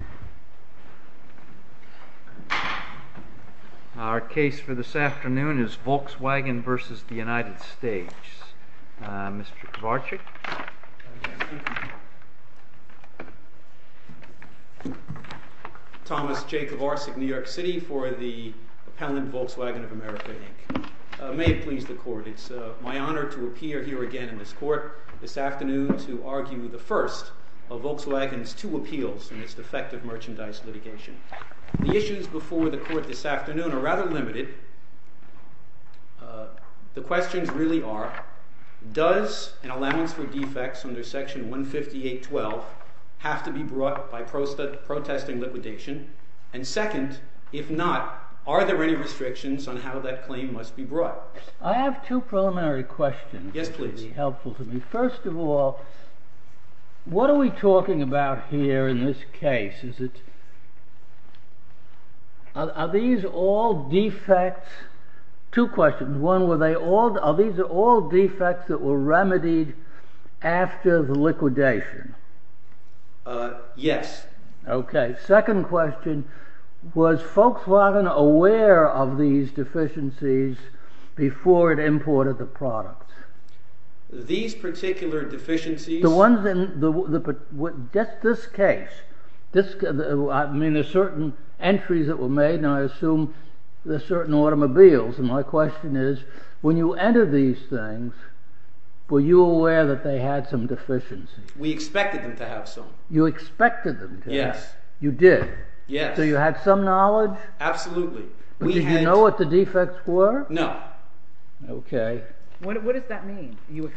Thomas J. Kovarcik, New York City, for the Appellant, Volkswagen of America, Inc. May it please the Court, it is my honor to appear here again in this Court this afternoon to argue the first of Volkswagen's two appeals in its defective merchandise litigation. The issues before the Court this afternoon are rather limited. The questions really are, does an allowance for defects under Section 158.12 have to be brought by protesting liquidation? And second, if not, are there any restrictions on how that claim must be brought? I have two preliminary questions that would be helpful to me. First of all, what are we talking about here in this case? Are these all defects that were remedied after the liquidation? Yes. Second question, was Volkswagen aware of these deficiencies before it imported the products? These particular deficiencies? Just this case. I mean, there are certain entries that were made, and I assume there are certain automobiles. My question is, when you entered these things, were you aware that they had some deficiencies? We expected them to have some. You expected them to have some? Yes. You did? Yes. So you had some knowledge? Absolutely. Did you know what the defects were? No. Okay. What does that mean? You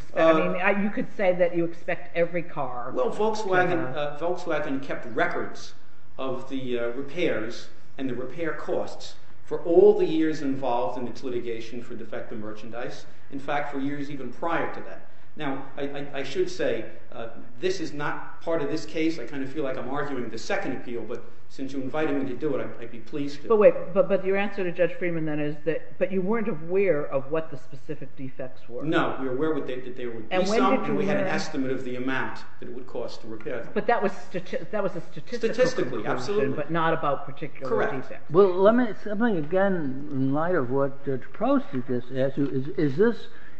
could say that you expect every car. Well, Volkswagen kept records of the repairs and the repair costs for all the years involved in its litigation for defective merchandise. In fact, for years even prior to that. Now, I should say, this is not part of this case. I kind of feel like I'm arguing the second appeal, but since you're inviting me to do it, I'd be pleased to. But wait. But your answer to Judge Freeman, then, is that you weren't aware of what the specific defects were. No. We were aware that there would be some, and we had an estimate of the amount that it would cost to repair them. Correct. Well, let me say something again in light of what the process is. Is this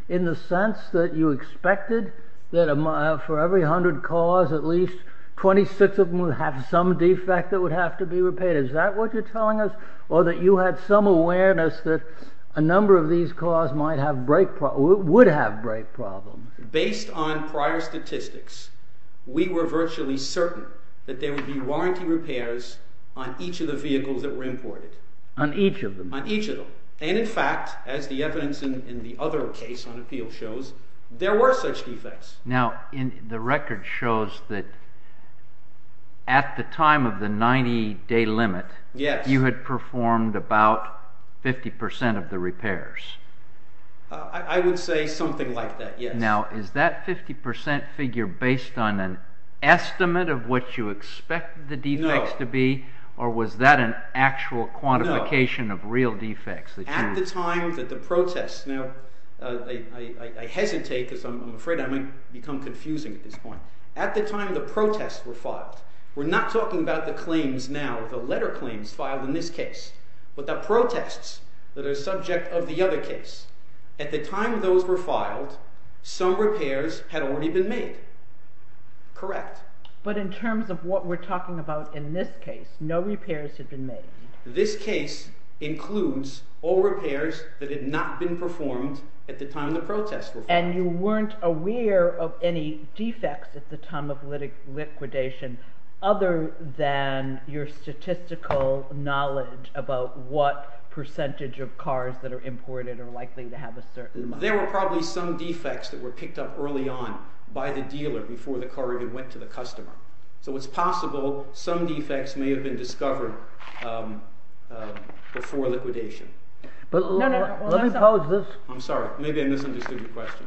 in the sense that you expected that for every hundred cars, at least 26 of them would have some defect that would have to be repaired? Is that what you're telling us? Or that you had some awareness that a number of these cars would have brake problems? Based on prior statistics, we were virtually certain that there would be warranty repairs on each of the vehicles that were imported. On each of them? On each of them. And, in fact, as the evidence in the other case on appeal shows, there were such defects. Now, the record shows that at the time of the 90-day limit, you had performed about 50 percent of the repairs. I would say something like that, yes. Now, is that 50 percent figure based on an estimate of what you expected the defects to be? No. Or was that an actual quantification of real defects? No. At the time that the protests—now, I hesitate because I'm afraid I might become confusing at this point. At the time the protests were filed, we're not talking about the claims now, the letter claims filed in this case, but the protests that are subject of the other case. At the time those were filed, some repairs had already been made, correct? But in terms of what we're talking about in this case, no repairs had been made. This case includes all repairs that had not been performed at the time the protests were filed. And you weren't aware of any defects at the time of liquidation other than your statistical knowledge about what percentage of cars that are imported are likely to have a certain amount. There were probably some defects that were picked up early on by the dealer before the car even went to the customer. So it's possible some defects may have been discovered before liquidation. Let me pose this— I'm sorry. Maybe I misunderstood your question.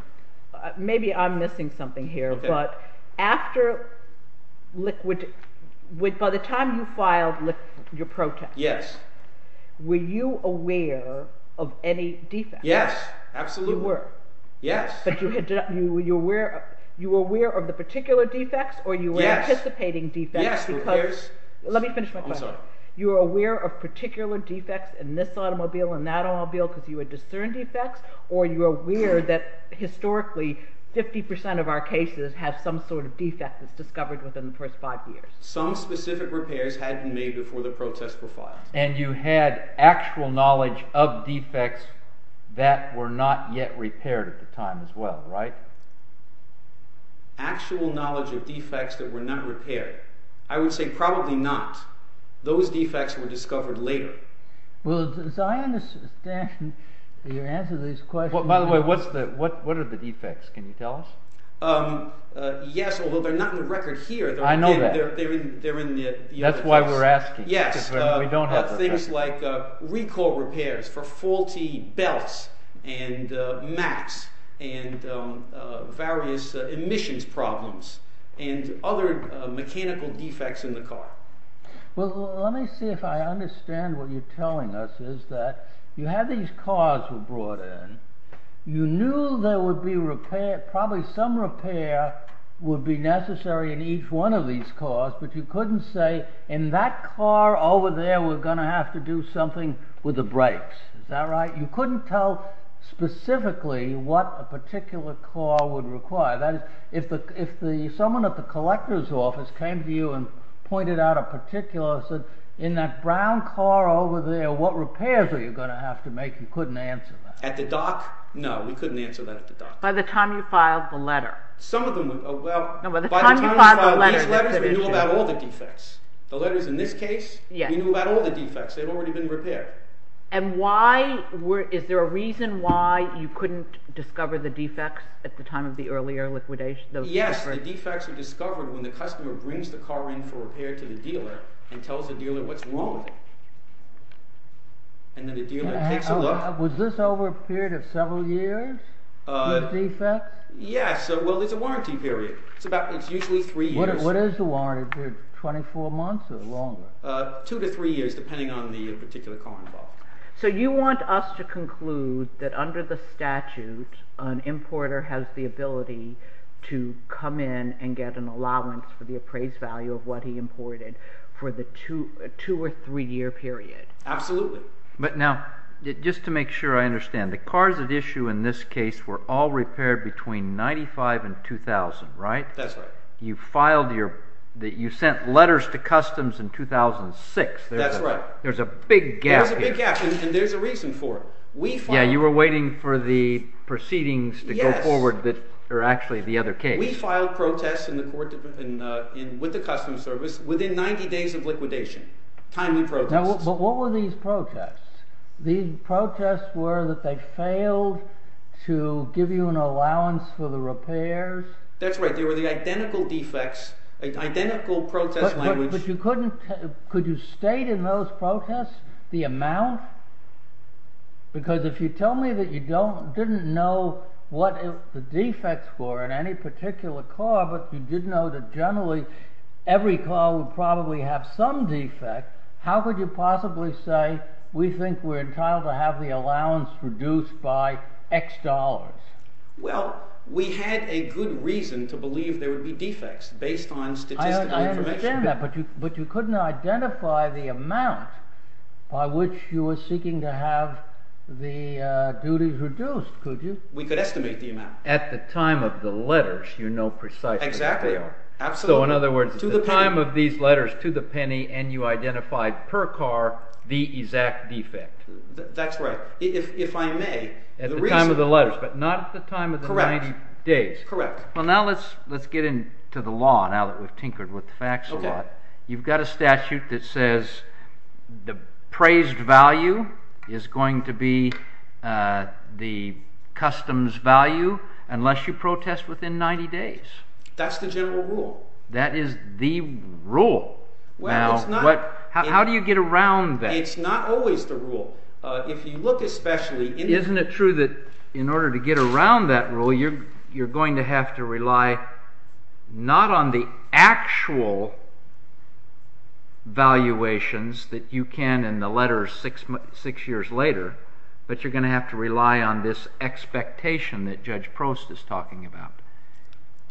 Maybe I'm missing something here, but after liquid—by the time you filed your protests, were you aware of any defects? Yes, absolutely. You were. Yes. But you were aware of the particular defects or you were anticipating defects because— Yes, repairs— Let me finish my question. I'm sorry. Were you aware of particular defects in this automobile and that automobile because you had discerned defects, or you were aware that historically 50 percent of our cases have some sort of defect that's discovered within the first five years? Some specific repairs had been made before the protests were filed. And you had actual knowledge of defects that were not yet repaired at the time as well, right? Actual knowledge of defects that were not repaired. I would say probably not. Those defects were discovered later. Well, Zionist—you're answering these questions— By the way, what are the defects? Can you tell us? Yes, although they're not in the record here. I know that. They're in the— Yes. Because we don't have the records. recall repairs for faulty belts and mats and various emissions problems and other mechanical defects in the car. Well, let me see if I understand what you're telling us is that you had these cars were brought in. You knew there would be repair—probably some repair would be necessary in each one of these cars, but you couldn't say, in that car over there, we're going to have to do something with the brakes. Is that right? You couldn't tell specifically what a particular car would require. That is, if someone at the collector's office came to you and pointed out a particular, and said, in that brown car over there, what repairs are you going to have to make? You couldn't answer that. At the dock? No, we couldn't answer that at the dock. By the time you filed the letter. Some of them—well, by the time you filed these letters, we knew about all the defects. The letters in this case, we knew about all the defects. They had already been repaired. And why—is there a reason why you couldn't discover the defects at the time of the earlier liquidation? Yes, the defects are discovered when the customer brings the car in for repair to the dealer and tells the dealer what's wrong with it. And then the dealer takes a look. Was this over a period of several years, these defects? Yes, well, it's a warranty period. It's usually three years. What is the warranty period, 24 months or longer? Two to three years, depending on the particular car involved. So you want us to conclude that under the statute, an importer has the ability to come in and get an allowance for the appraised value of what he imported for the two- or three-year period. Absolutely. But now, just to make sure I understand, the cars at issue in this case were all repaired between 1995 and 2000, right? That's right. You filed your—you sent letters to Customs in 2006. That's right. There's a big gap here. There's a big gap, and there's a reason for it. Yeah, you were waiting for the proceedings to go forward that are actually the other case. We filed protests with the Customs Service within 90 days of liquidation, timely protests. But what were these protests? These protests were that they failed to give you an allowance for the repairs. That's right. They were the identical defects, identical protest language. But you couldn't—could you state in those protests the amount? Because if you tell me that you didn't know what the defects were in any particular car, but you did know that generally every car would probably have some defect, how could you possibly say we think we're entitled to have the allowance reduced by X dollars? Well, we had a good reason to believe there would be defects based on statistical information. I understand that, but you couldn't identify the amount by which you were seeking to have the duties reduced, could you? We could estimate the amount. At the time of the letters, you know precisely where they are. Exactly. Absolutely. So in other words, at the time of these letters to the penny, and you identified per car the exact defect. That's right. If I may, the reason— At the time of the letters, but not at the time of the 90 days. Correct. Well, now let's get into the law now that we've tinkered with the facts a lot. Okay. You've got a statute that says the praised value is going to be the customs value unless you protest within 90 days. That's the general rule. That is the rule. Well, it's not— How do you get around that? It's not always the rule. If you look especially— —valuations that you can in the letters six years later, but you're going to have to rely on this expectation that Judge Prost is talking about.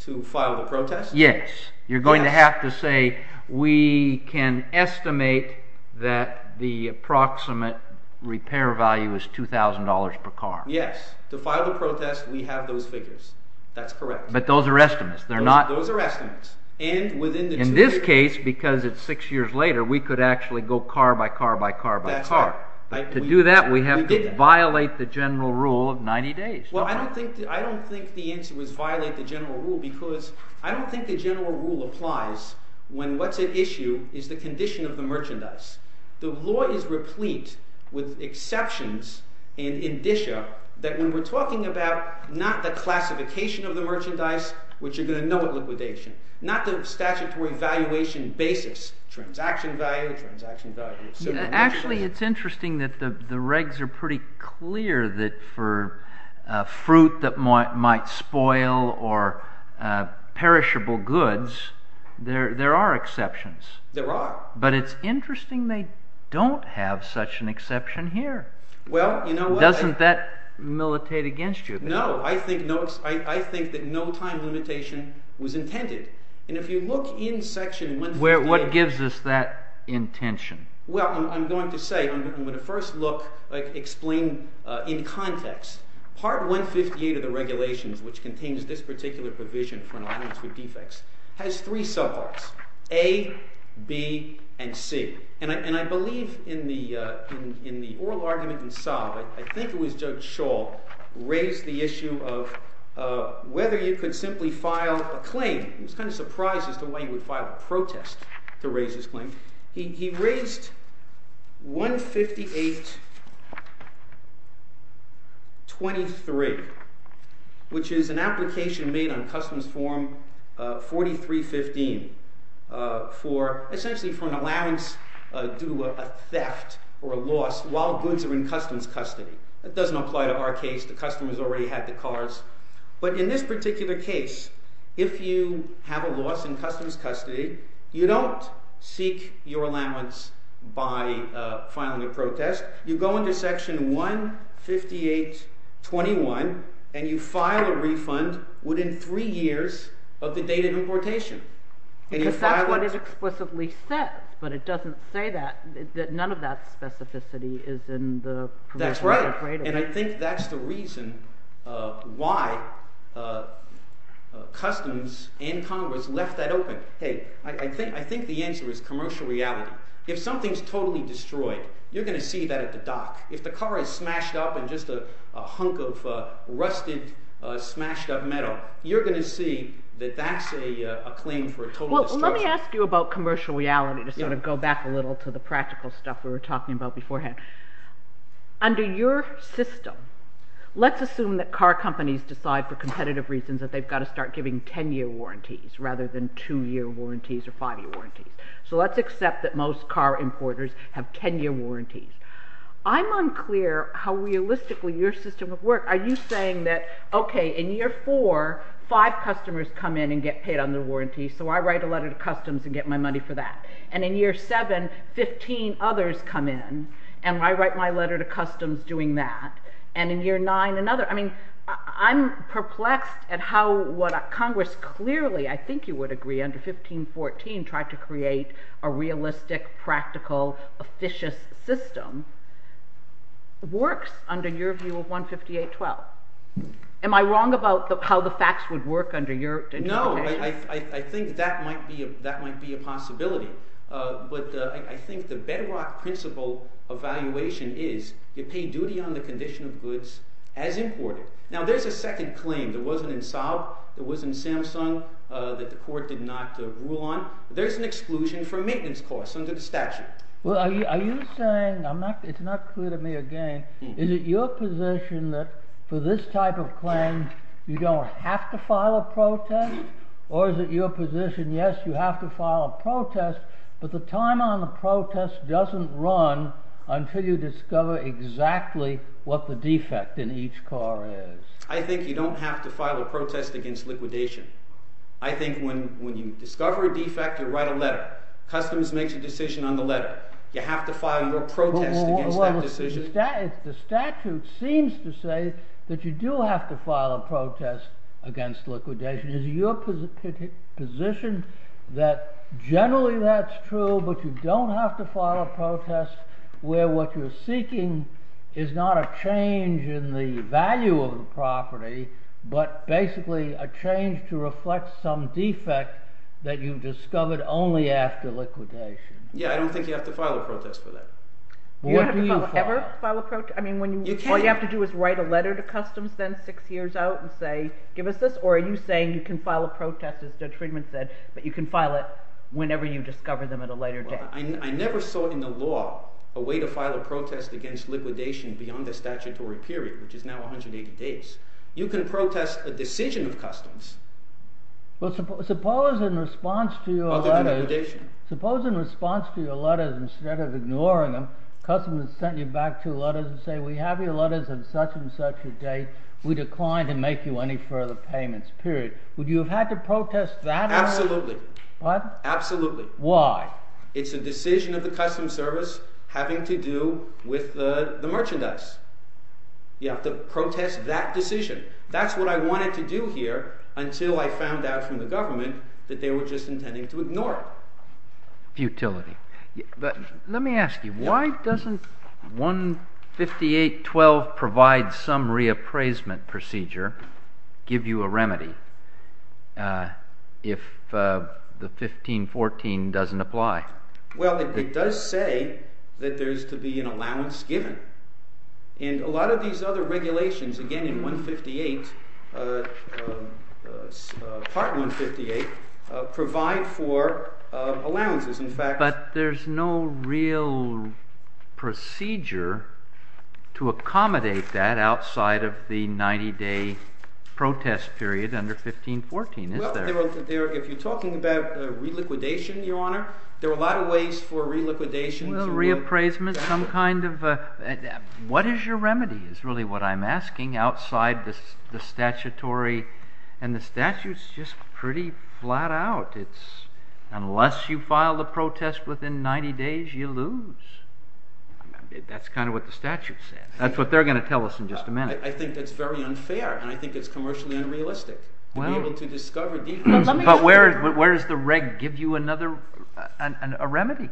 To file the protest? Yes. You're going to have to say we can estimate that the approximate repair value is $2,000 per car. Yes. To file the protest, we have those figures. That's correct. But those are estimates. They're not— Those are estimates. And within the— In this case, because it's six years later, we could actually go car by car by car by car. That's right. To do that, we have to violate the general rule of 90 days. Well, I don't think the answer was violate the general rule because I don't think the general rule applies when what's at issue is the condition of the merchandise. The law is replete with exceptions and indicia that when we're talking about not the classification of the merchandise, which you're going to know at liquidation, not the statutory valuation basis, transaction value, transaction value. Actually, it's interesting that the regs are pretty clear that for fruit that might spoil or perishable goods, there are exceptions. There are. But it's interesting they don't have such an exception here. Well, you know what— Doesn't that militate against you? No. I think that no time limitation was intended. And if you look in Section 158— What gives us that intention? Well, I'm going to say—I'm going to first look—explain in context. Part 158 of the regulations, which contains this particular provision for an allowance for defects, has three subparts, A, B, and C. And I believe in the oral argument in Saab, I think it was Judge Shaw, raised the issue of whether you could simply file a claim. I was kind of surprised as to why you would file a protest to raise this claim. He raised 158.23, which is an application made on Customs Form 4315 for—essentially for an allowance due to a theft or a loss while goods are in Customs custody. That doesn't apply to our case. The customers already had the cars. But in this particular case, if you have a loss in Customs custody, you don't seek your allowance by filing a protest. You go into Section 158.21, and you file a refund within three years of the date of importation. Because that's what it explicitly says, but it doesn't say that—that none of that specificity is in the— That's right, and I think that's the reason why Customs and Congress left that open. Hey, I think the answer is commercial reality. If something is totally destroyed, you're going to see that at the dock. If the car is smashed up and just a hunk of rusted, smashed-up metal, you're going to see that that's a claim for a total destruction. Well, let me ask you about commercial reality to sort of go back a little to the practical stuff we were talking about beforehand. Under your system, let's assume that car companies decide for competitive reasons that they've got to start giving 10-year warranties rather than 2-year warranties or 5-year warranties. So let's accept that most car importers have 10-year warranties. I'm unclear how realistically your system would work. Are you saying that, okay, in year 4, 5 customers come in and get paid under warranty, so I write a letter to Customs and get my money for that. And in year 7, 15 others come in, and I write my letter to Customs doing that. And in year 9, another. I mean, I'm perplexed at how what Congress clearly, I think you would agree, under 1514 tried to create a realistic, practical, officious system works under your view of 15812. Am I wrong about how the facts would work under your interpretation? No, I think that might be a possibility. But I think the bedrock principle of valuation is you pay duty on the condition of goods as imported. Now, there's a second claim that wasn't in Saud, that wasn't in Samsung, that the court did not rule on. There's an exclusion for maintenance costs under the statute. Well, are you saying, it's not clear to me again, is it your position that for this type of claim, you don't have to file a protest? Or is it your position, yes, you have to file a protest, but the time on the protest doesn't run until you discover exactly what the defect in each car is? I think you don't have to file a protest against liquidation. I think when you discover a defect, you write a letter. Customs makes a decision on the letter. You have to file your protest against that decision. The statute seems to say that you do have to file a protest against liquidation. Is it your position that generally that's true, but you don't have to file a protest where what you're seeking is not a change in the value of the property, but basically a change to reflect some defect that you've discovered only after liquidation? Yeah, I don't think you have to file a protest for that. You don't have to ever file a protest? All you have to do is write a letter to Customs then six years out and say, give us this, or are you saying you can file a protest, as Judge Friedman said, but you can file it whenever you discover them at a later date? I never saw in the law a way to file a protest against liquidation beyond the statutory period, which is now 180 days. You can protest a decision of Customs. Suppose in response to your letters, instead of ignoring them, Customs has sent you back two letters and said we have your letters at such and such a date, we decline to make you any further payments, period. Would you have had to protest that? Absolutely. Pardon? Absolutely. Why? It's a decision of the Customs Service having to do with the merchandise. You have to protest that decision. That's what I wanted to do here until I found out from the government that they were just intending to ignore it. Futility. Let me ask you, why doesn't 158.12 provide some reappraisement procedure, give you a remedy, if the 15.14 doesn't apply? Well, it does say that there is to be an allowance given. And a lot of these other regulations, again in 158, Part 158, provide for allowances. But there's no real procedure to accommodate that outside of the 90-day protest period under 15.14, is there? Well, if you're talking about reliquidation, Your Honor, there are a lot of ways for reliquidation. Well, reappraisement, some kind of—what is your remedy is really what I'm asking outside the statutory. And the statute's just pretty flat out. It's unless you file the protest within 90 days, you lose. That's kind of what the statute says. That's what they're going to tell us in just a minute. I think that's very unfair, and I think it's commercially unrealistic to be able to discover details. But where does the reg give you another—a remedy?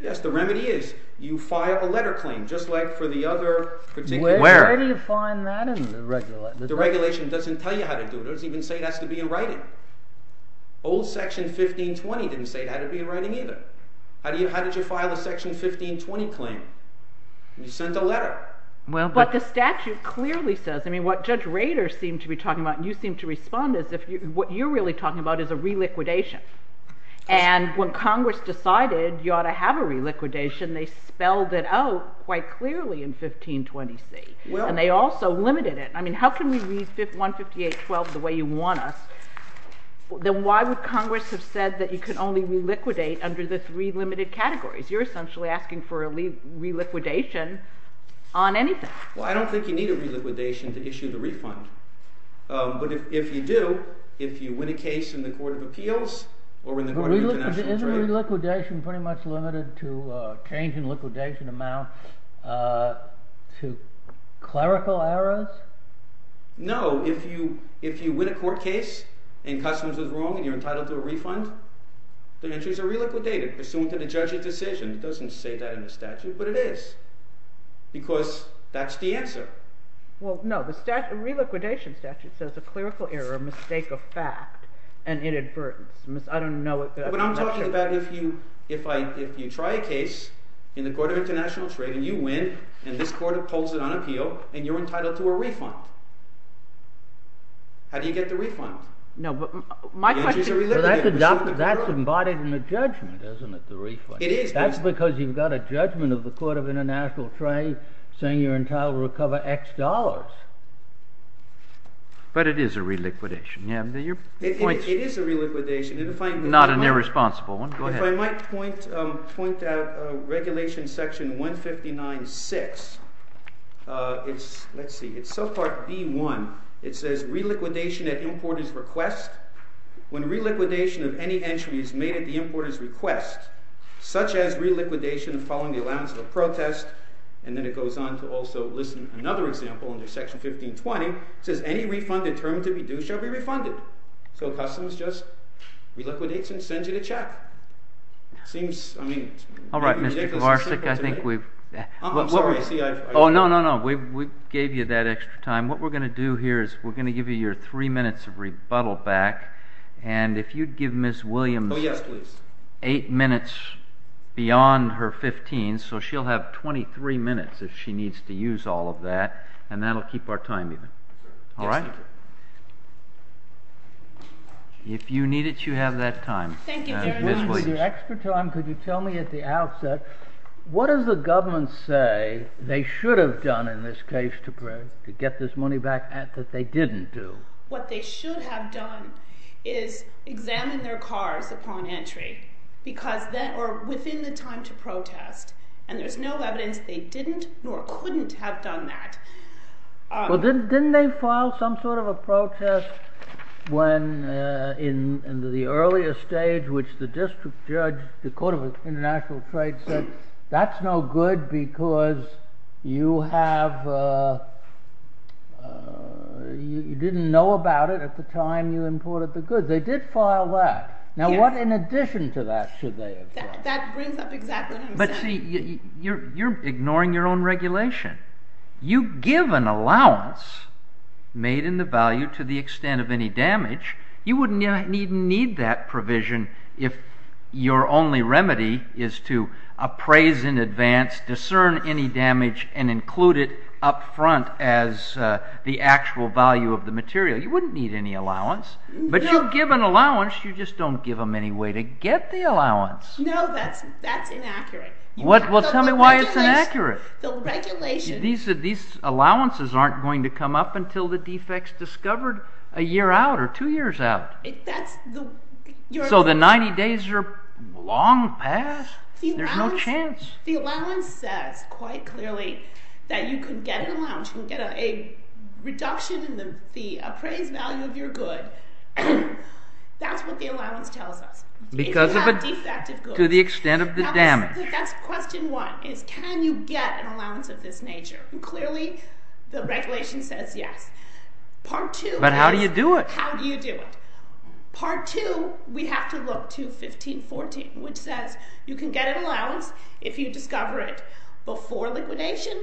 Yes, the remedy is you file a letter claim, just like for the other particular— Where do you find that in the regulation? The regulation doesn't tell you how to do it. It doesn't even say it has to be in writing. Old Section 1520 didn't say it had to be in writing either. How did you file a Section 1520 claim? You sent a letter. Well, but the statute clearly says—I mean, what Judge Rader seemed to be talking about, and you seemed to respond, is what you're really talking about is a reliquidation. And when Congress decided you ought to have a reliquidation, they spelled it out quite clearly in 1520C. And they also limited it. I mean, how can we read 158.12 the way you want us? Then why would Congress have said that you could only reliquidate under the three limited categories? You're essentially asking for a reliquidation on anything. Well, I don't think you need a reliquidation to issue the refund. But if you do, if you win a case in the Court of Appeals or in the Court of International Trade— But isn't reliquidation pretty much limited to a change in liquidation amount to clerical errors? No. If you win a court case and customs is wrong and you're entitled to a refund, the entries are reliquidated pursuant to the judge's decision. It doesn't say that in the statute, but it is because that's the answer. Well, no. The reliquidation statute says a clerical error, a mistake of fact, and inadvertence. I don't know— But I'm talking about if you try a case in the Court of International Trade, and you win, and this court pulls it on appeal, and you're entitled to a refund. How do you get the refund? No, but my question— The entries are reliquidated. That's embodied in the judgment, isn't it, the refund? It is. That's because you've got a judgment of the Court of International Trade saying you're entitled to recover X dollars. But it is a reliquidation. It is a reliquidation. Not an irresponsible one. Go ahead. If I might point out Regulation Section 159.6. Let's see. It's subpart B.1. It says reliquidation at importer's request. When reliquidation of any entry is made at the importer's request, such as reliquidation following the allowance of a protest, and then it goes on to also list another example under Section 1520. It says any refund determined to be due shall be refunded. So Customs just reliquidates and sends you the check. It seems—I mean— All right, Mr. Kovarsik, I think we've— I'm sorry. I see I've— Oh, no, no, no. We gave you that extra time. What we're going to do here is we're going to give you your three minutes of rebuttal back. And if you'd give Ms. Williams— Oh, yes, please. Eight minutes beyond her 15, so she'll have 23 minutes if she needs to use all of that. And that'll keep our time even. All right? Yes, thank you. If you need it, you have that time. Thank you very much. Ms. Williams. Mr. Kovarsik, with your extra time, could you tell me at the outset, what does the government say they should have done in this case to get this money back that they didn't do? What they should have done is examined their cars upon entry because—or within the time to protest. And there's no evidence they didn't nor couldn't have done that. Well, didn't they file some sort of a protest when—in the earlier stage, which the district judge, the Court of International Trade said, that's no good because you have—you didn't know about it at the time you imported the goods. They did file that. Now, what in addition to that should they have done? That brings up exactly what I'm saying. You're ignoring your own regulation. You give an allowance made in the value to the extent of any damage. You wouldn't even need that provision if your only remedy is to appraise in advance, discern any damage, and include it up front as the actual value of the material. You wouldn't need any allowance. But you give an allowance, you just don't give them any way to get the allowance. No, that's inaccurate. Well, tell me why it's inaccurate. The regulation— These allowances aren't going to come up until the defects discovered a year out or two years out. That's the— So the 90 days are long past. There's no chance. The allowance says quite clearly that you could get an allowance. You can get a reduction in the appraised value of your good. That's what the allowance tells us. If you have defective goods. To the extent of the damage. That's question one, is can you get an allowance of this nature? Clearly, the regulation says yes. Part two is— But how do you do it? How do you do it? Part two, we have to look to 1514, which says you can get an allowance if you discover it before liquidation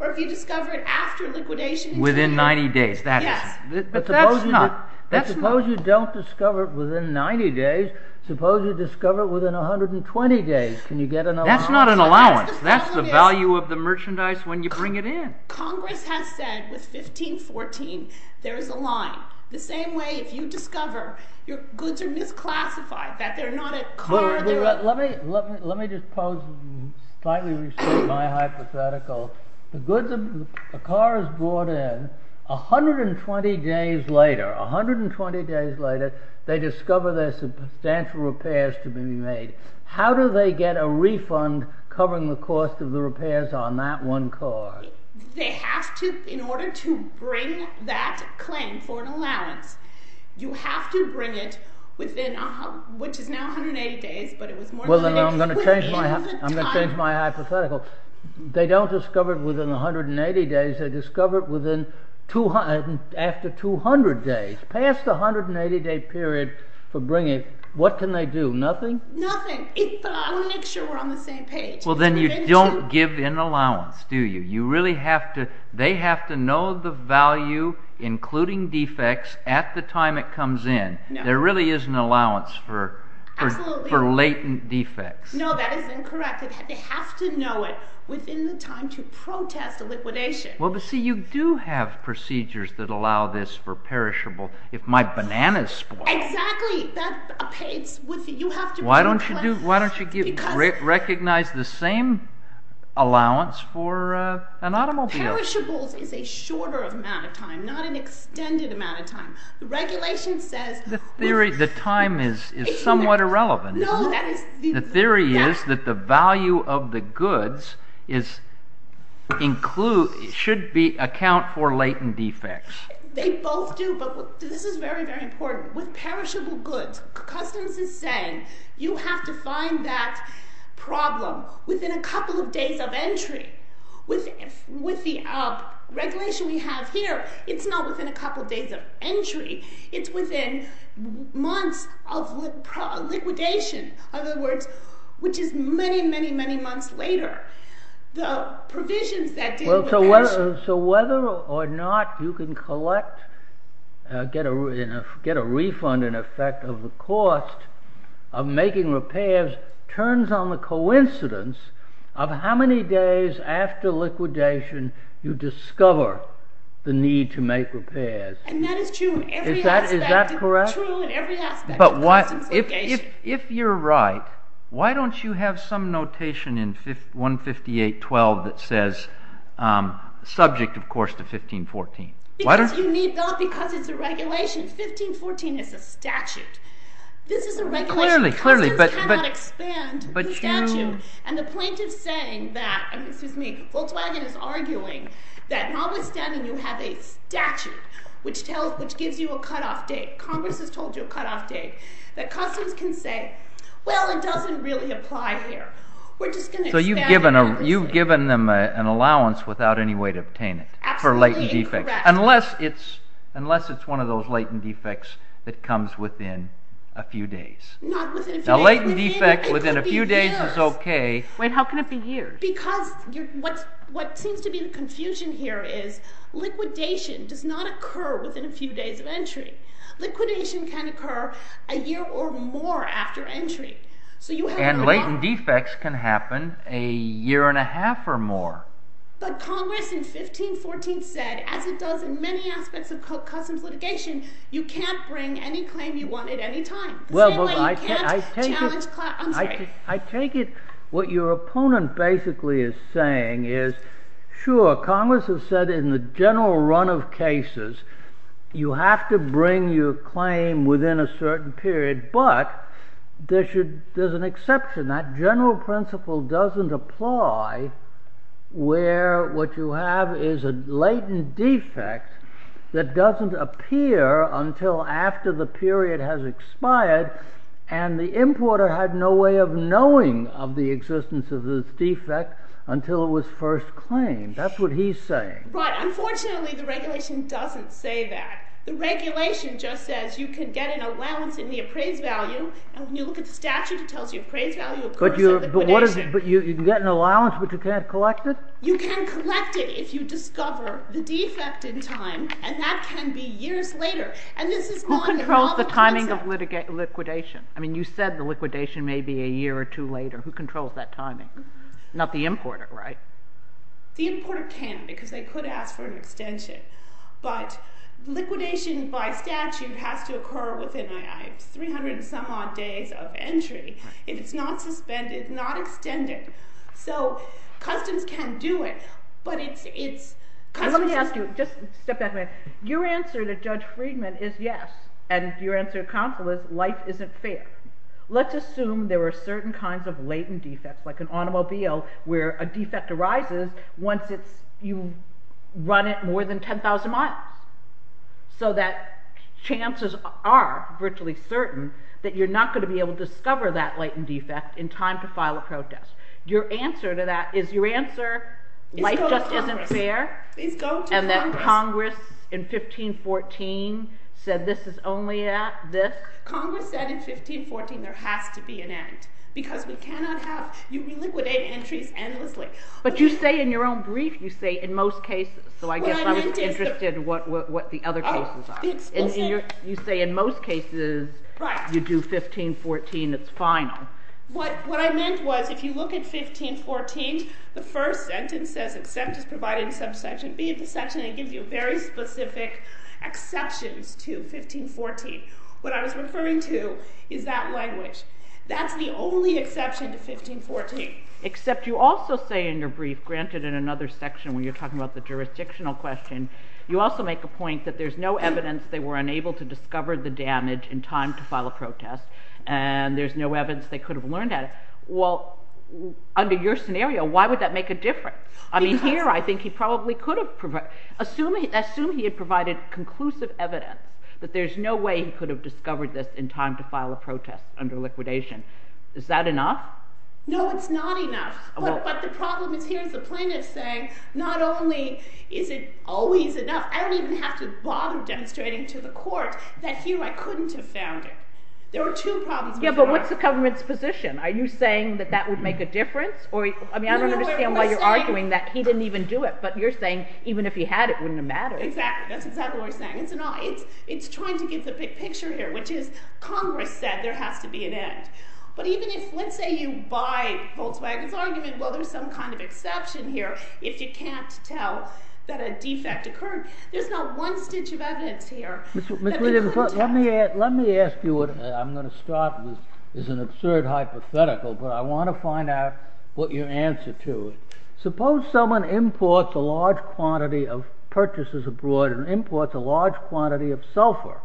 or if you discover it after liquidation. Within 90 days. Yes. But that's not— But suppose you don't discover it within 90 days. Suppose you discover it within 120 days. Can you get an allowance? That's not an allowance. That's the value of the merchandise when you bring it in. Congress has said with 1514 there is a line. The same way if you discover your goods are misclassified, that they're not a cargo— 120 days later, they discover there's substantial repairs to be made. How do they get a refund covering the cost of the repairs on that one car? They have to, in order to bring that claim for an allowance, you have to bring it within, which is now 180 days, but it was more than— I'm going to change my hypothetical. They don't discover it within 180 days. They discover it after 200 days, past the 180-day period for bringing it. What can they do? Nothing? Nothing. I want to make sure we're on the same page. Well, then you don't give an allowance, do you? You really have to—they have to know the value, including defects, at the time it comes in. There really is an allowance for latent defects. No, that is incorrect. They have to know it within the time to protest a liquidation. Well, but, see, you do have procedures that allow this for perishables. If my banana's spoiled— Exactly. You have to— Why don't you recognize the same allowance for an automobile? Perishables is a shorter amount of time, not an extended amount of time. The regulation says— The theory—the time is somewhat irrelevant. No, that is— The theory is that the value of the goods should account for latent defects. They both do, but this is very, very important. With perishable goods, Customs is saying, you have to find that problem within a couple of days of entry. With the regulation we have here, it's not within a couple of days of entry. It's within months of liquidation. In other words, which is many, many, many months later. The provisions that deal with perishables— So whether or not you can get a refund in effect of the cost of making repairs turns on the coincidence of how many days after liquidation you discover the need to make repairs. And that is true in every aspect. Is that correct? It's true in every aspect of Customs litigation. If you're right, why don't you have some notation in 158.12 that says, subject, of course, to 1514? Because you need not—because it's a regulation. 1514 is a statute. This is a regulation. Clearly, clearly. Customs cannot expand the statute. And the plaintiff's saying that—excuse me, Volkswagen is arguing that notwithstanding you have a statute which gives you a cutoff date. Congress has told you a cutoff date. That Customs can say, well, it doesn't really apply here. We're just going to expand— So you've given them an allowance without any way to obtain it for latent defects. Absolutely incorrect. Unless it's one of those latent defects that comes within a few days. Not within a few days. A latent defect within a few days is okay. It could be years. Wait, how can it be years? Because what seems to be the confusion here is liquidation does not occur within a few days of entry. Liquidation can occur a year or more after entry. And latent defects can happen a year and a half or more. But Congress in 1514 said, as it does in many aspects of Customs litigation, you can't bring any claim you want at any time. The same way you can't challenge—I'm sorry. I take it what your opponent basically is saying is, sure, Congress has said in the general run of cases you have to bring your claim within a certain period, but there's an exception. That general principle doesn't apply where what you have is a latent defect that doesn't appear until after the period has expired and the importer had no way of knowing of the existence of this defect until it was first claimed. That's what he's saying. Right. Unfortunately, the regulation doesn't say that. The regulation just says you can get an allowance in the appraised value, and when you look at the statute, it tells you appraised value occurs in liquidation. But you can get an allowance, but you can't collect it? You can collect it if you discover the defect in time, and that can be years later. Who controls the timing of liquidation? I mean, you said the liquidation may be a year or two later. Who controls that timing? Not the importer, right? The importer can because they could ask for an extension, but liquidation by statute has to occur within 300 and some odd days of entry. If it's not suspended, not extended, so customs can do it, but it's customs... Let me ask you, just step back a minute. Your answer to Judge Friedman is yes, and your answer to counsel is life isn't fair. Let's assume there are certain kinds of latent defects, like an automobile where a defect arises once you run it more than 10,000 miles, so that chances are, virtually certain, that you're not going to be able to discover that latent defect in time to file a protest. Your answer to that is your answer, life just isn't fair, and that Congress in 1514 said this is only this? Congress said in 1514 there has to be an end because you reliquidate entries endlessly. But you say in your own brief, you say in most cases, so I guess I was interested in what the other cases are. You say in most cases you do 1514, it's final. What I meant was if you look at 1514, the first sentence says except as provided in subsection B of the section, it gives you very specific exceptions to 1514. What I was referring to is that language. That's the only exception to 1514. Except you also say in your brief, granted in another section when you're talking about the jurisdictional question, you also make a point that there's no evidence they were unable to discover the damage in time to file a protest, and there's no evidence they could have learned that. Well, under your scenario, why would that make a difference? I mean, here I think he probably could have provided, assume he had provided conclusive evidence that there's no way he could have discovered this in time to file a protest under liquidation. Is that enough? No, it's not enough. But the problem is here the plaintiff is saying not only is it always enough, I don't even have to bother demonstrating to the court that here I couldn't have found it. There were two problems before. Yeah, but what's the government's position? Are you saying that that would make a difference? I mean, I don't understand why you're arguing that he didn't even do it, but you're saying even if he had, it wouldn't have mattered. Exactly, that's exactly what we're saying. It's trying to get the big picture here, which is Congress said there has to be an end. But even if, let's say you buy Volkswagen's argument, well, there's some kind of exception here if you can't tell that a defect occurred. There's not one stitch of evidence here that we couldn't tell. Ms. Williams, let me ask you what I'm going to start with. This is an absurd hypothetical, but I want to find out what your answer to it. Suppose someone imports a large quantity of purchases abroad and imports a large quantity of sulfur.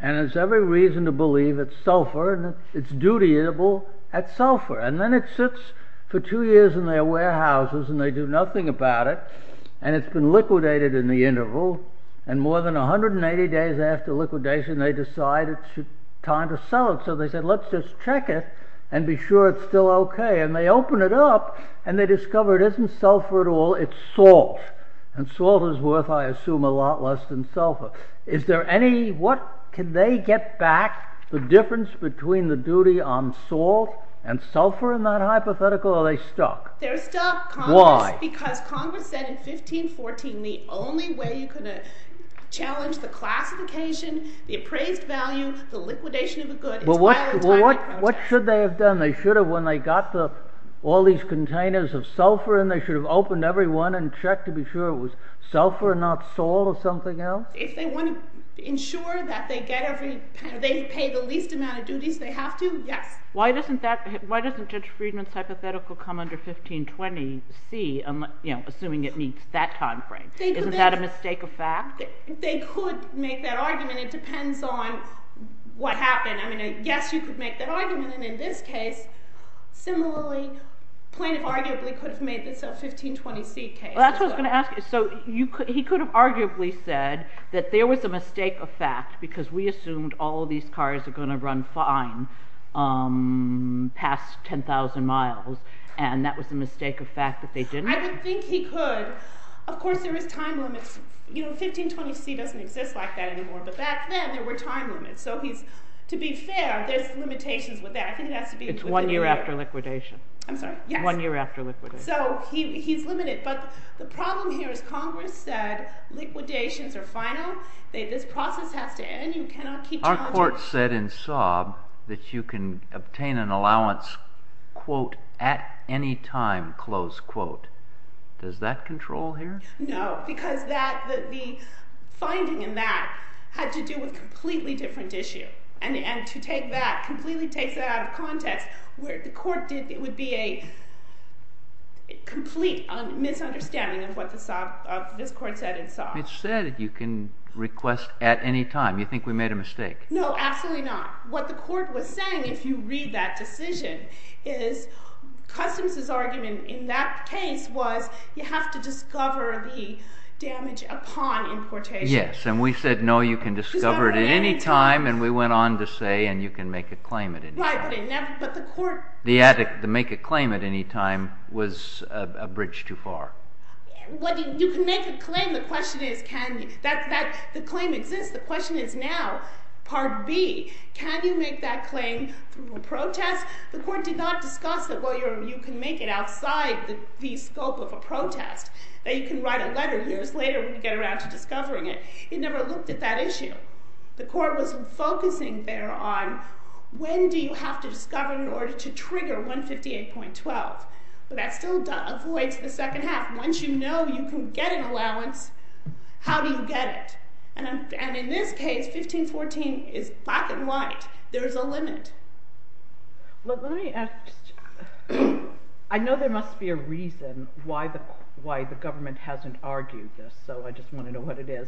And there's every reason to believe it's sulfur and it's duty-able at sulfur. And then it sits for two years in their warehouses and they do nothing about it, and it's been liquidated in the interval, and more than 180 days after liquidation they decide it's time to sell it. So they said, let's just check it and be sure it's still okay. And they open it up and they discover it isn't sulfur at all, it's salt. And salt is worth, I assume, a lot less than sulfur. Is there any... what... Can they get back the difference between the duty on salt and sulfur in that hypothetical, or are they stuck? They're stuck. Why? Because Congress said in 1514 the only way you could challenge the classification, the appraised value, the liquidation of a good... Well, what should they have done? They should have, when they got all these containers of sulfur in, they should have opened every one and checked to be sure it was sulfur and not salt or something else? If they want to ensure that they pay the least amount of duties they have to, yes. Why doesn't Judge Friedman's hypothetical come under 1520C, assuming it meets that time frame? Isn't that a mistake of fact? They could make that argument. It depends on what happened. I mean, yes, you could make that argument, and in this case, similarly, the plaintiff arguably could have made this a 1520C case. That's what I was going to ask you. He could have arguably said that there was a mistake of fact because we assumed all of these cars are going to run fine past 10,000 miles, and that was a mistake of fact that they didn't. I would think he could. Of course, there is time limits. 1520C doesn't exist like that anymore, but back then there were time limits. To be fair, there's limitations with that. I think it has to be within a year. One year after liquidation. I'm sorry? Yes. One year after liquidation. So he's limited, but the problem here is Congress said liquidations are final. This process has to end. You cannot keep challenging it. Our court said in Saab that you can obtain an allowance quote, at any time, close quote. Does that control here? No, because the finding in that had to do with a completely different issue, and to take that, completely take that out of context, the court would be a complete misunderstanding of what this court said in Saab. It said you can request at any time. You think we made a mistake? No, absolutely not. What the court was saying, if you read that decision, is Customs' argument in that case was you have to discover the damage upon importation. Yes, and we said no, you can discover it at any time, and we went on to say, and you can make a claim at any time. Right, but the court- The make a claim at any time was a bridge too far. You can make a claim. The question is, can you? The claim exists. The question is now, part B, can you make that claim through a protest? The court did not discuss that, well, you can make it outside the scope of a protest, that you can write a letter years later when you get around to discovering it. It never looked at that issue. The court was focusing there on when do you have to discover in order to trigger 158.12. But that still avoids the second half. Once you know you can get an allowance, how do you get it? And in this case, 1514 is black and white. There is a limit. Well, let me ask, I know there must be a reason why the government hasn't argued this, so I just want to know what it is.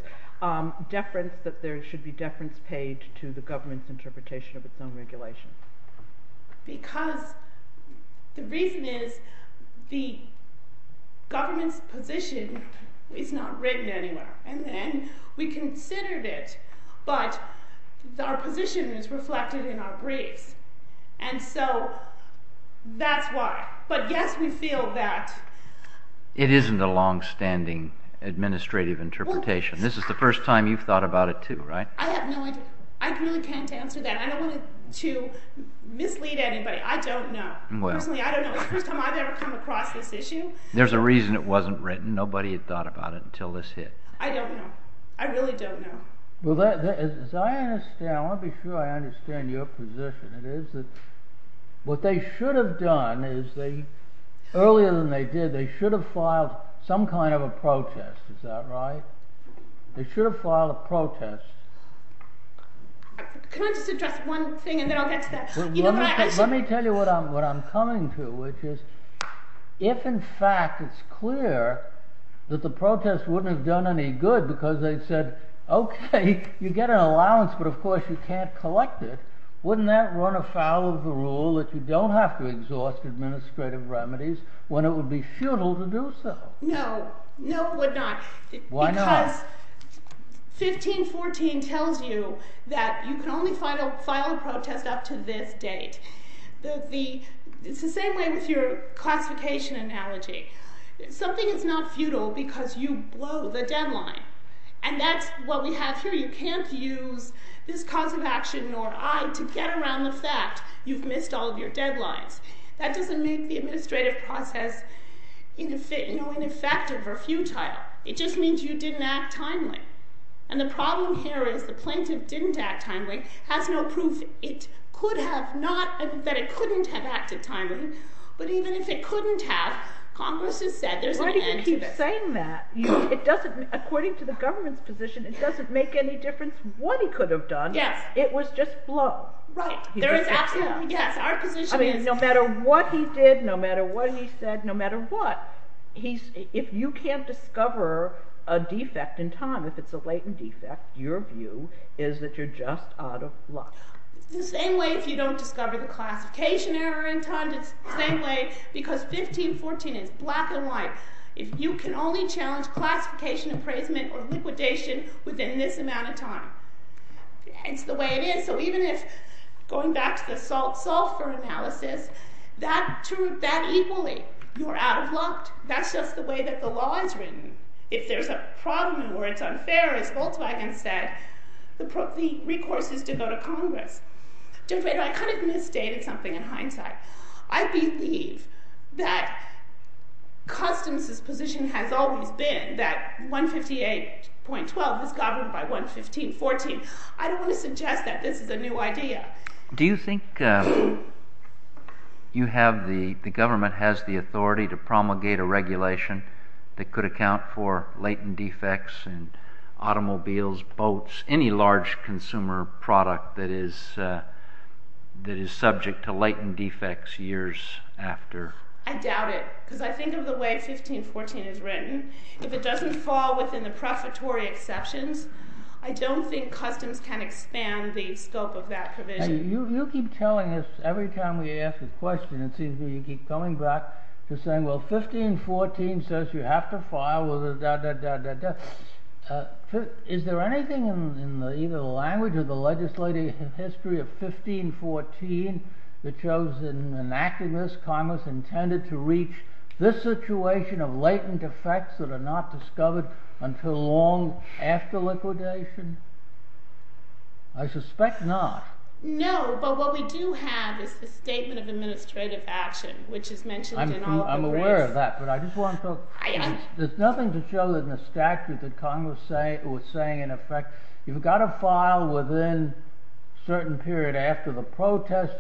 Deference, that there should be deference paid to the government's interpretation of its own regulation. Because the reason is the government's position is not written anywhere. And then we considered it, but our position is reflected in our briefs. And so that's why. But yes, we feel that. It isn't a longstanding administrative interpretation. This is the first time you've thought about it too, right? I have no idea. I really can't answer that. I don't want to mislead anybody. I don't know. Personally, I don't know. It's the first time I've ever come across this issue. There's a reason it wasn't written. Nobody had thought about it until this hit. I don't know. I really don't know. Well, as I understand, I want to be sure I understand your position. It is that what they should have done is they, earlier than they did, they They should have filed a protest. Can I just address one thing, and then I'll get to that? Let me tell you what I'm coming to, which is if, in fact, it's clear that the protest wouldn't have done any good because they said, OK, you get an allowance, but of course you can't collect it, wouldn't that run afoul of the rule that you don't have to exhaust administrative remedies when it would be futile to do so? No. No, it would not. Why not? Because 1514 tells you that you can only file a protest up to this date. It's the same way with your classification analogy. Something is not futile because you blow the deadline. And that's what we have here. You can't use this cause of action, nor I, to get around the fact you've missed all of your deadlines. That doesn't make the administrative process ineffective or futile. It just means you didn't act timely. And the problem here is the plaintiff didn't act timely, has no proof that it couldn't have acted timely. But even if it couldn't have, Congress has said there's an end to this. Why do you keep saying that? According to the government's position, it doesn't make any difference what he could have done. Yes. It was just blow. Right. There is absolutely, yes, our position is. No matter what he did, no matter what he said, no matter what, if you can't discover a defect in time, if it's a latent defect, your view is that you're just out of luck. It's the same way if you don't discover the classification error in time. It's the same way because 1514 is black and white. If you can only challenge classification appraisement or liquidation within this amount of time. It's the way it is. So even if, going back to the sulfur analysis, that equally, you're out of luck. That's just the way that the law is written. If there's a problem or it's unfair, as Volkswagen said, the recourse is to go to Congress. Judge Bader, I kind of misstated something in hindsight. I believe that customs' position has always been that 158.12 was governed by 115.14. I don't want to suggest that this is a new idea. Do you think the government has the authority to promulgate a regulation that could account for latent defects in automobiles, boats, any large consumer product that is subject to latent defects years after? I doubt it because I think of the way 1514 is written. If it doesn't fall within the prefatory exceptions, I don't think customs can expand the scope of that provision. You keep telling us, every time we ask a question, it seems to me you keep coming back to saying, well, 1514 says you have to file, da-da-da-da-da. Is there anything in either the language or the legislative history of 1514 that shows in an act of this, Congress intended to reach this situation of latent defects that are not discovered until long after liquidation? I suspect not. No, but what we do have is the Statement of Administrative Action, which is mentioned in all of the briefs. I'm aware of that, but I just wanted to... There's nothing to show in the statute that Congress was saying, in effect, you've got to file within a certain period after the protest,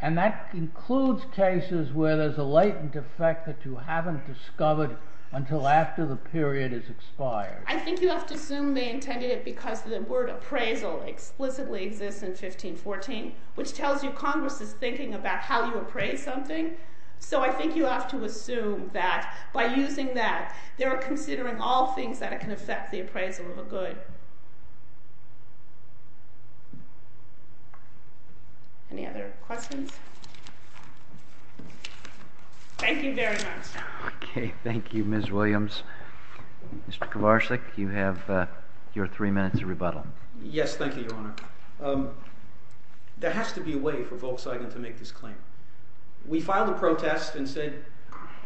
and that includes cases where there's a latent defect that you haven't discovered until after the period is expired. I think you have to assume they intended it because the word appraisal explicitly exists in 1514, which tells you Congress is thinking about how you appraise something. So I think you have to assume that, by using that, they were considering all things that can affect the appraisal of a good. Any other questions? Thank you very much. Okay, thank you, Ms. Williams. Mr. Kovarsik, you have your three minutes of rebuttal. Yes, thank you, Your Honor. There has to be a way for Volkswagen to make this claim. We filed a protest and said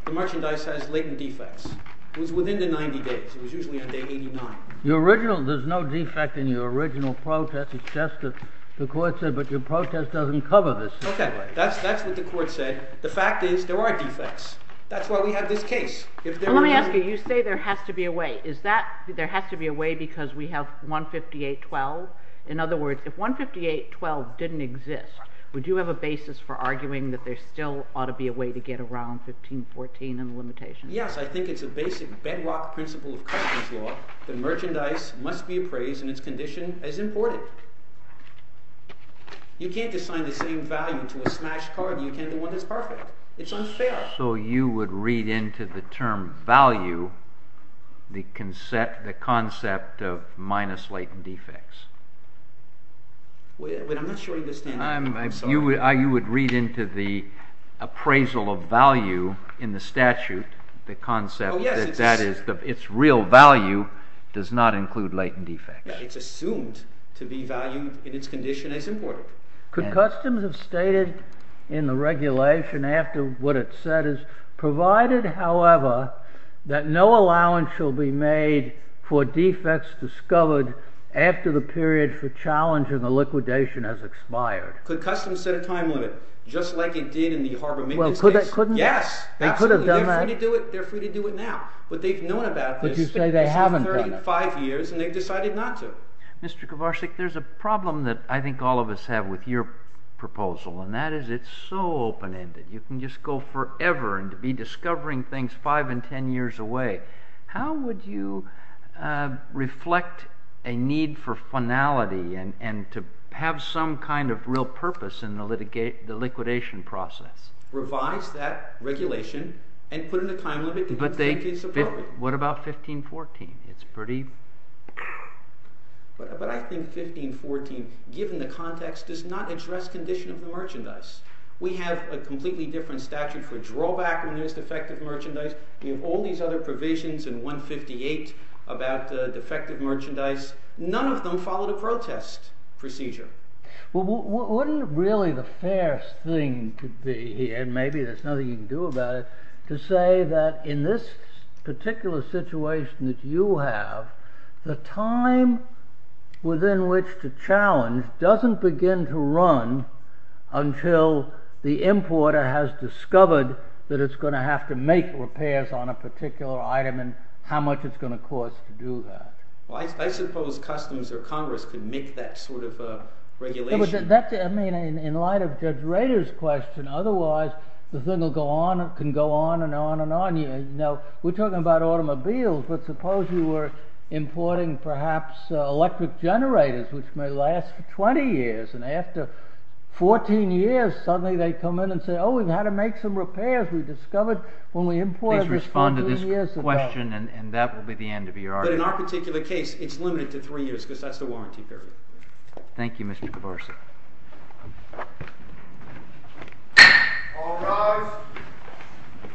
the merchandise has latent defects. It was within the 90 days. It was usually on day 89. There's no defect in your original protest. It's just that the court said, Okay, that's what the court said. The fact is, there are defects. That's why we have this case. Let me ask you, you say there has to be a way. Is that there has to be a way because we have 158.12? In other words, if 158.12 didn't exist, would you have a basis for arguing that there still ought to be a way to get around 1514 and the limitations? Yes, I think it's a basic bedrock principle of customs law that merchandise must be appraised in its condition as imported. You can't assign the same value to a smashed car than you can to one that's perfect. It's unfair. So you would read into the term value the concept of minus latent defects. I'm not sure you understand that. You would read into the appraisal of value in the statute the concept that its real value does not include latent defects. It's assumed to be valued in its condition as imported. Could customs have stated in the regulation after what it said provided, however, that no allowance shall be made for defects discovered after the period for challenge and the liquidation has expired? Could customs set a time limit just like it did in the Harbormint case? Yes, absolutely. They're free to do it now. What they've known about this is that it's been 35 years and they've decided not to. Mr. Kovarcik, there's a problem that I think all of us have with your proposal, and that is it's so open-ended. You can just go forever and be discovering things five and ten years away. How would you reflect a need for finality and to have some kind of real purpose in the liquidation process? Revise that regulation and put in a time limit to 15-14. What about 15-14? It's pretty... But I think 15-14, given the context, does not address condition of the merchandise. We have a completely different statute for drawback when there's defective merchandise. We have all these other provisions in 158 about defective merchandise. None of them follow the protest procedure. Well, wouldn't it really the fairest thing to be, and maybe there's nothing you can do about it, to say that in this particular situation that you have, the time within which to challenge doesn't begin to run until the importer has discovered that it's going to have to make repairs on a particular item and how much it's going to cost to do that. Well, I suppose Customs or Congress could make that sort of regulation. I mean, in light of Judge Rader's question, otherwise the thing can go on and on and on. Now, we're talking about automobiles, but suppose you were importing perhaps electric generators which may last for 20 years, and after 14 years, suddenly they come in and say, oh, we've had to make some repairs. We discovered when we imported this 15 years ago. Please respond to this question, and that will be the end of your argument. But in our particular case, it's limited to 3 years because that's the warranty period. Thank you, Mr. DeBorsa. All rise.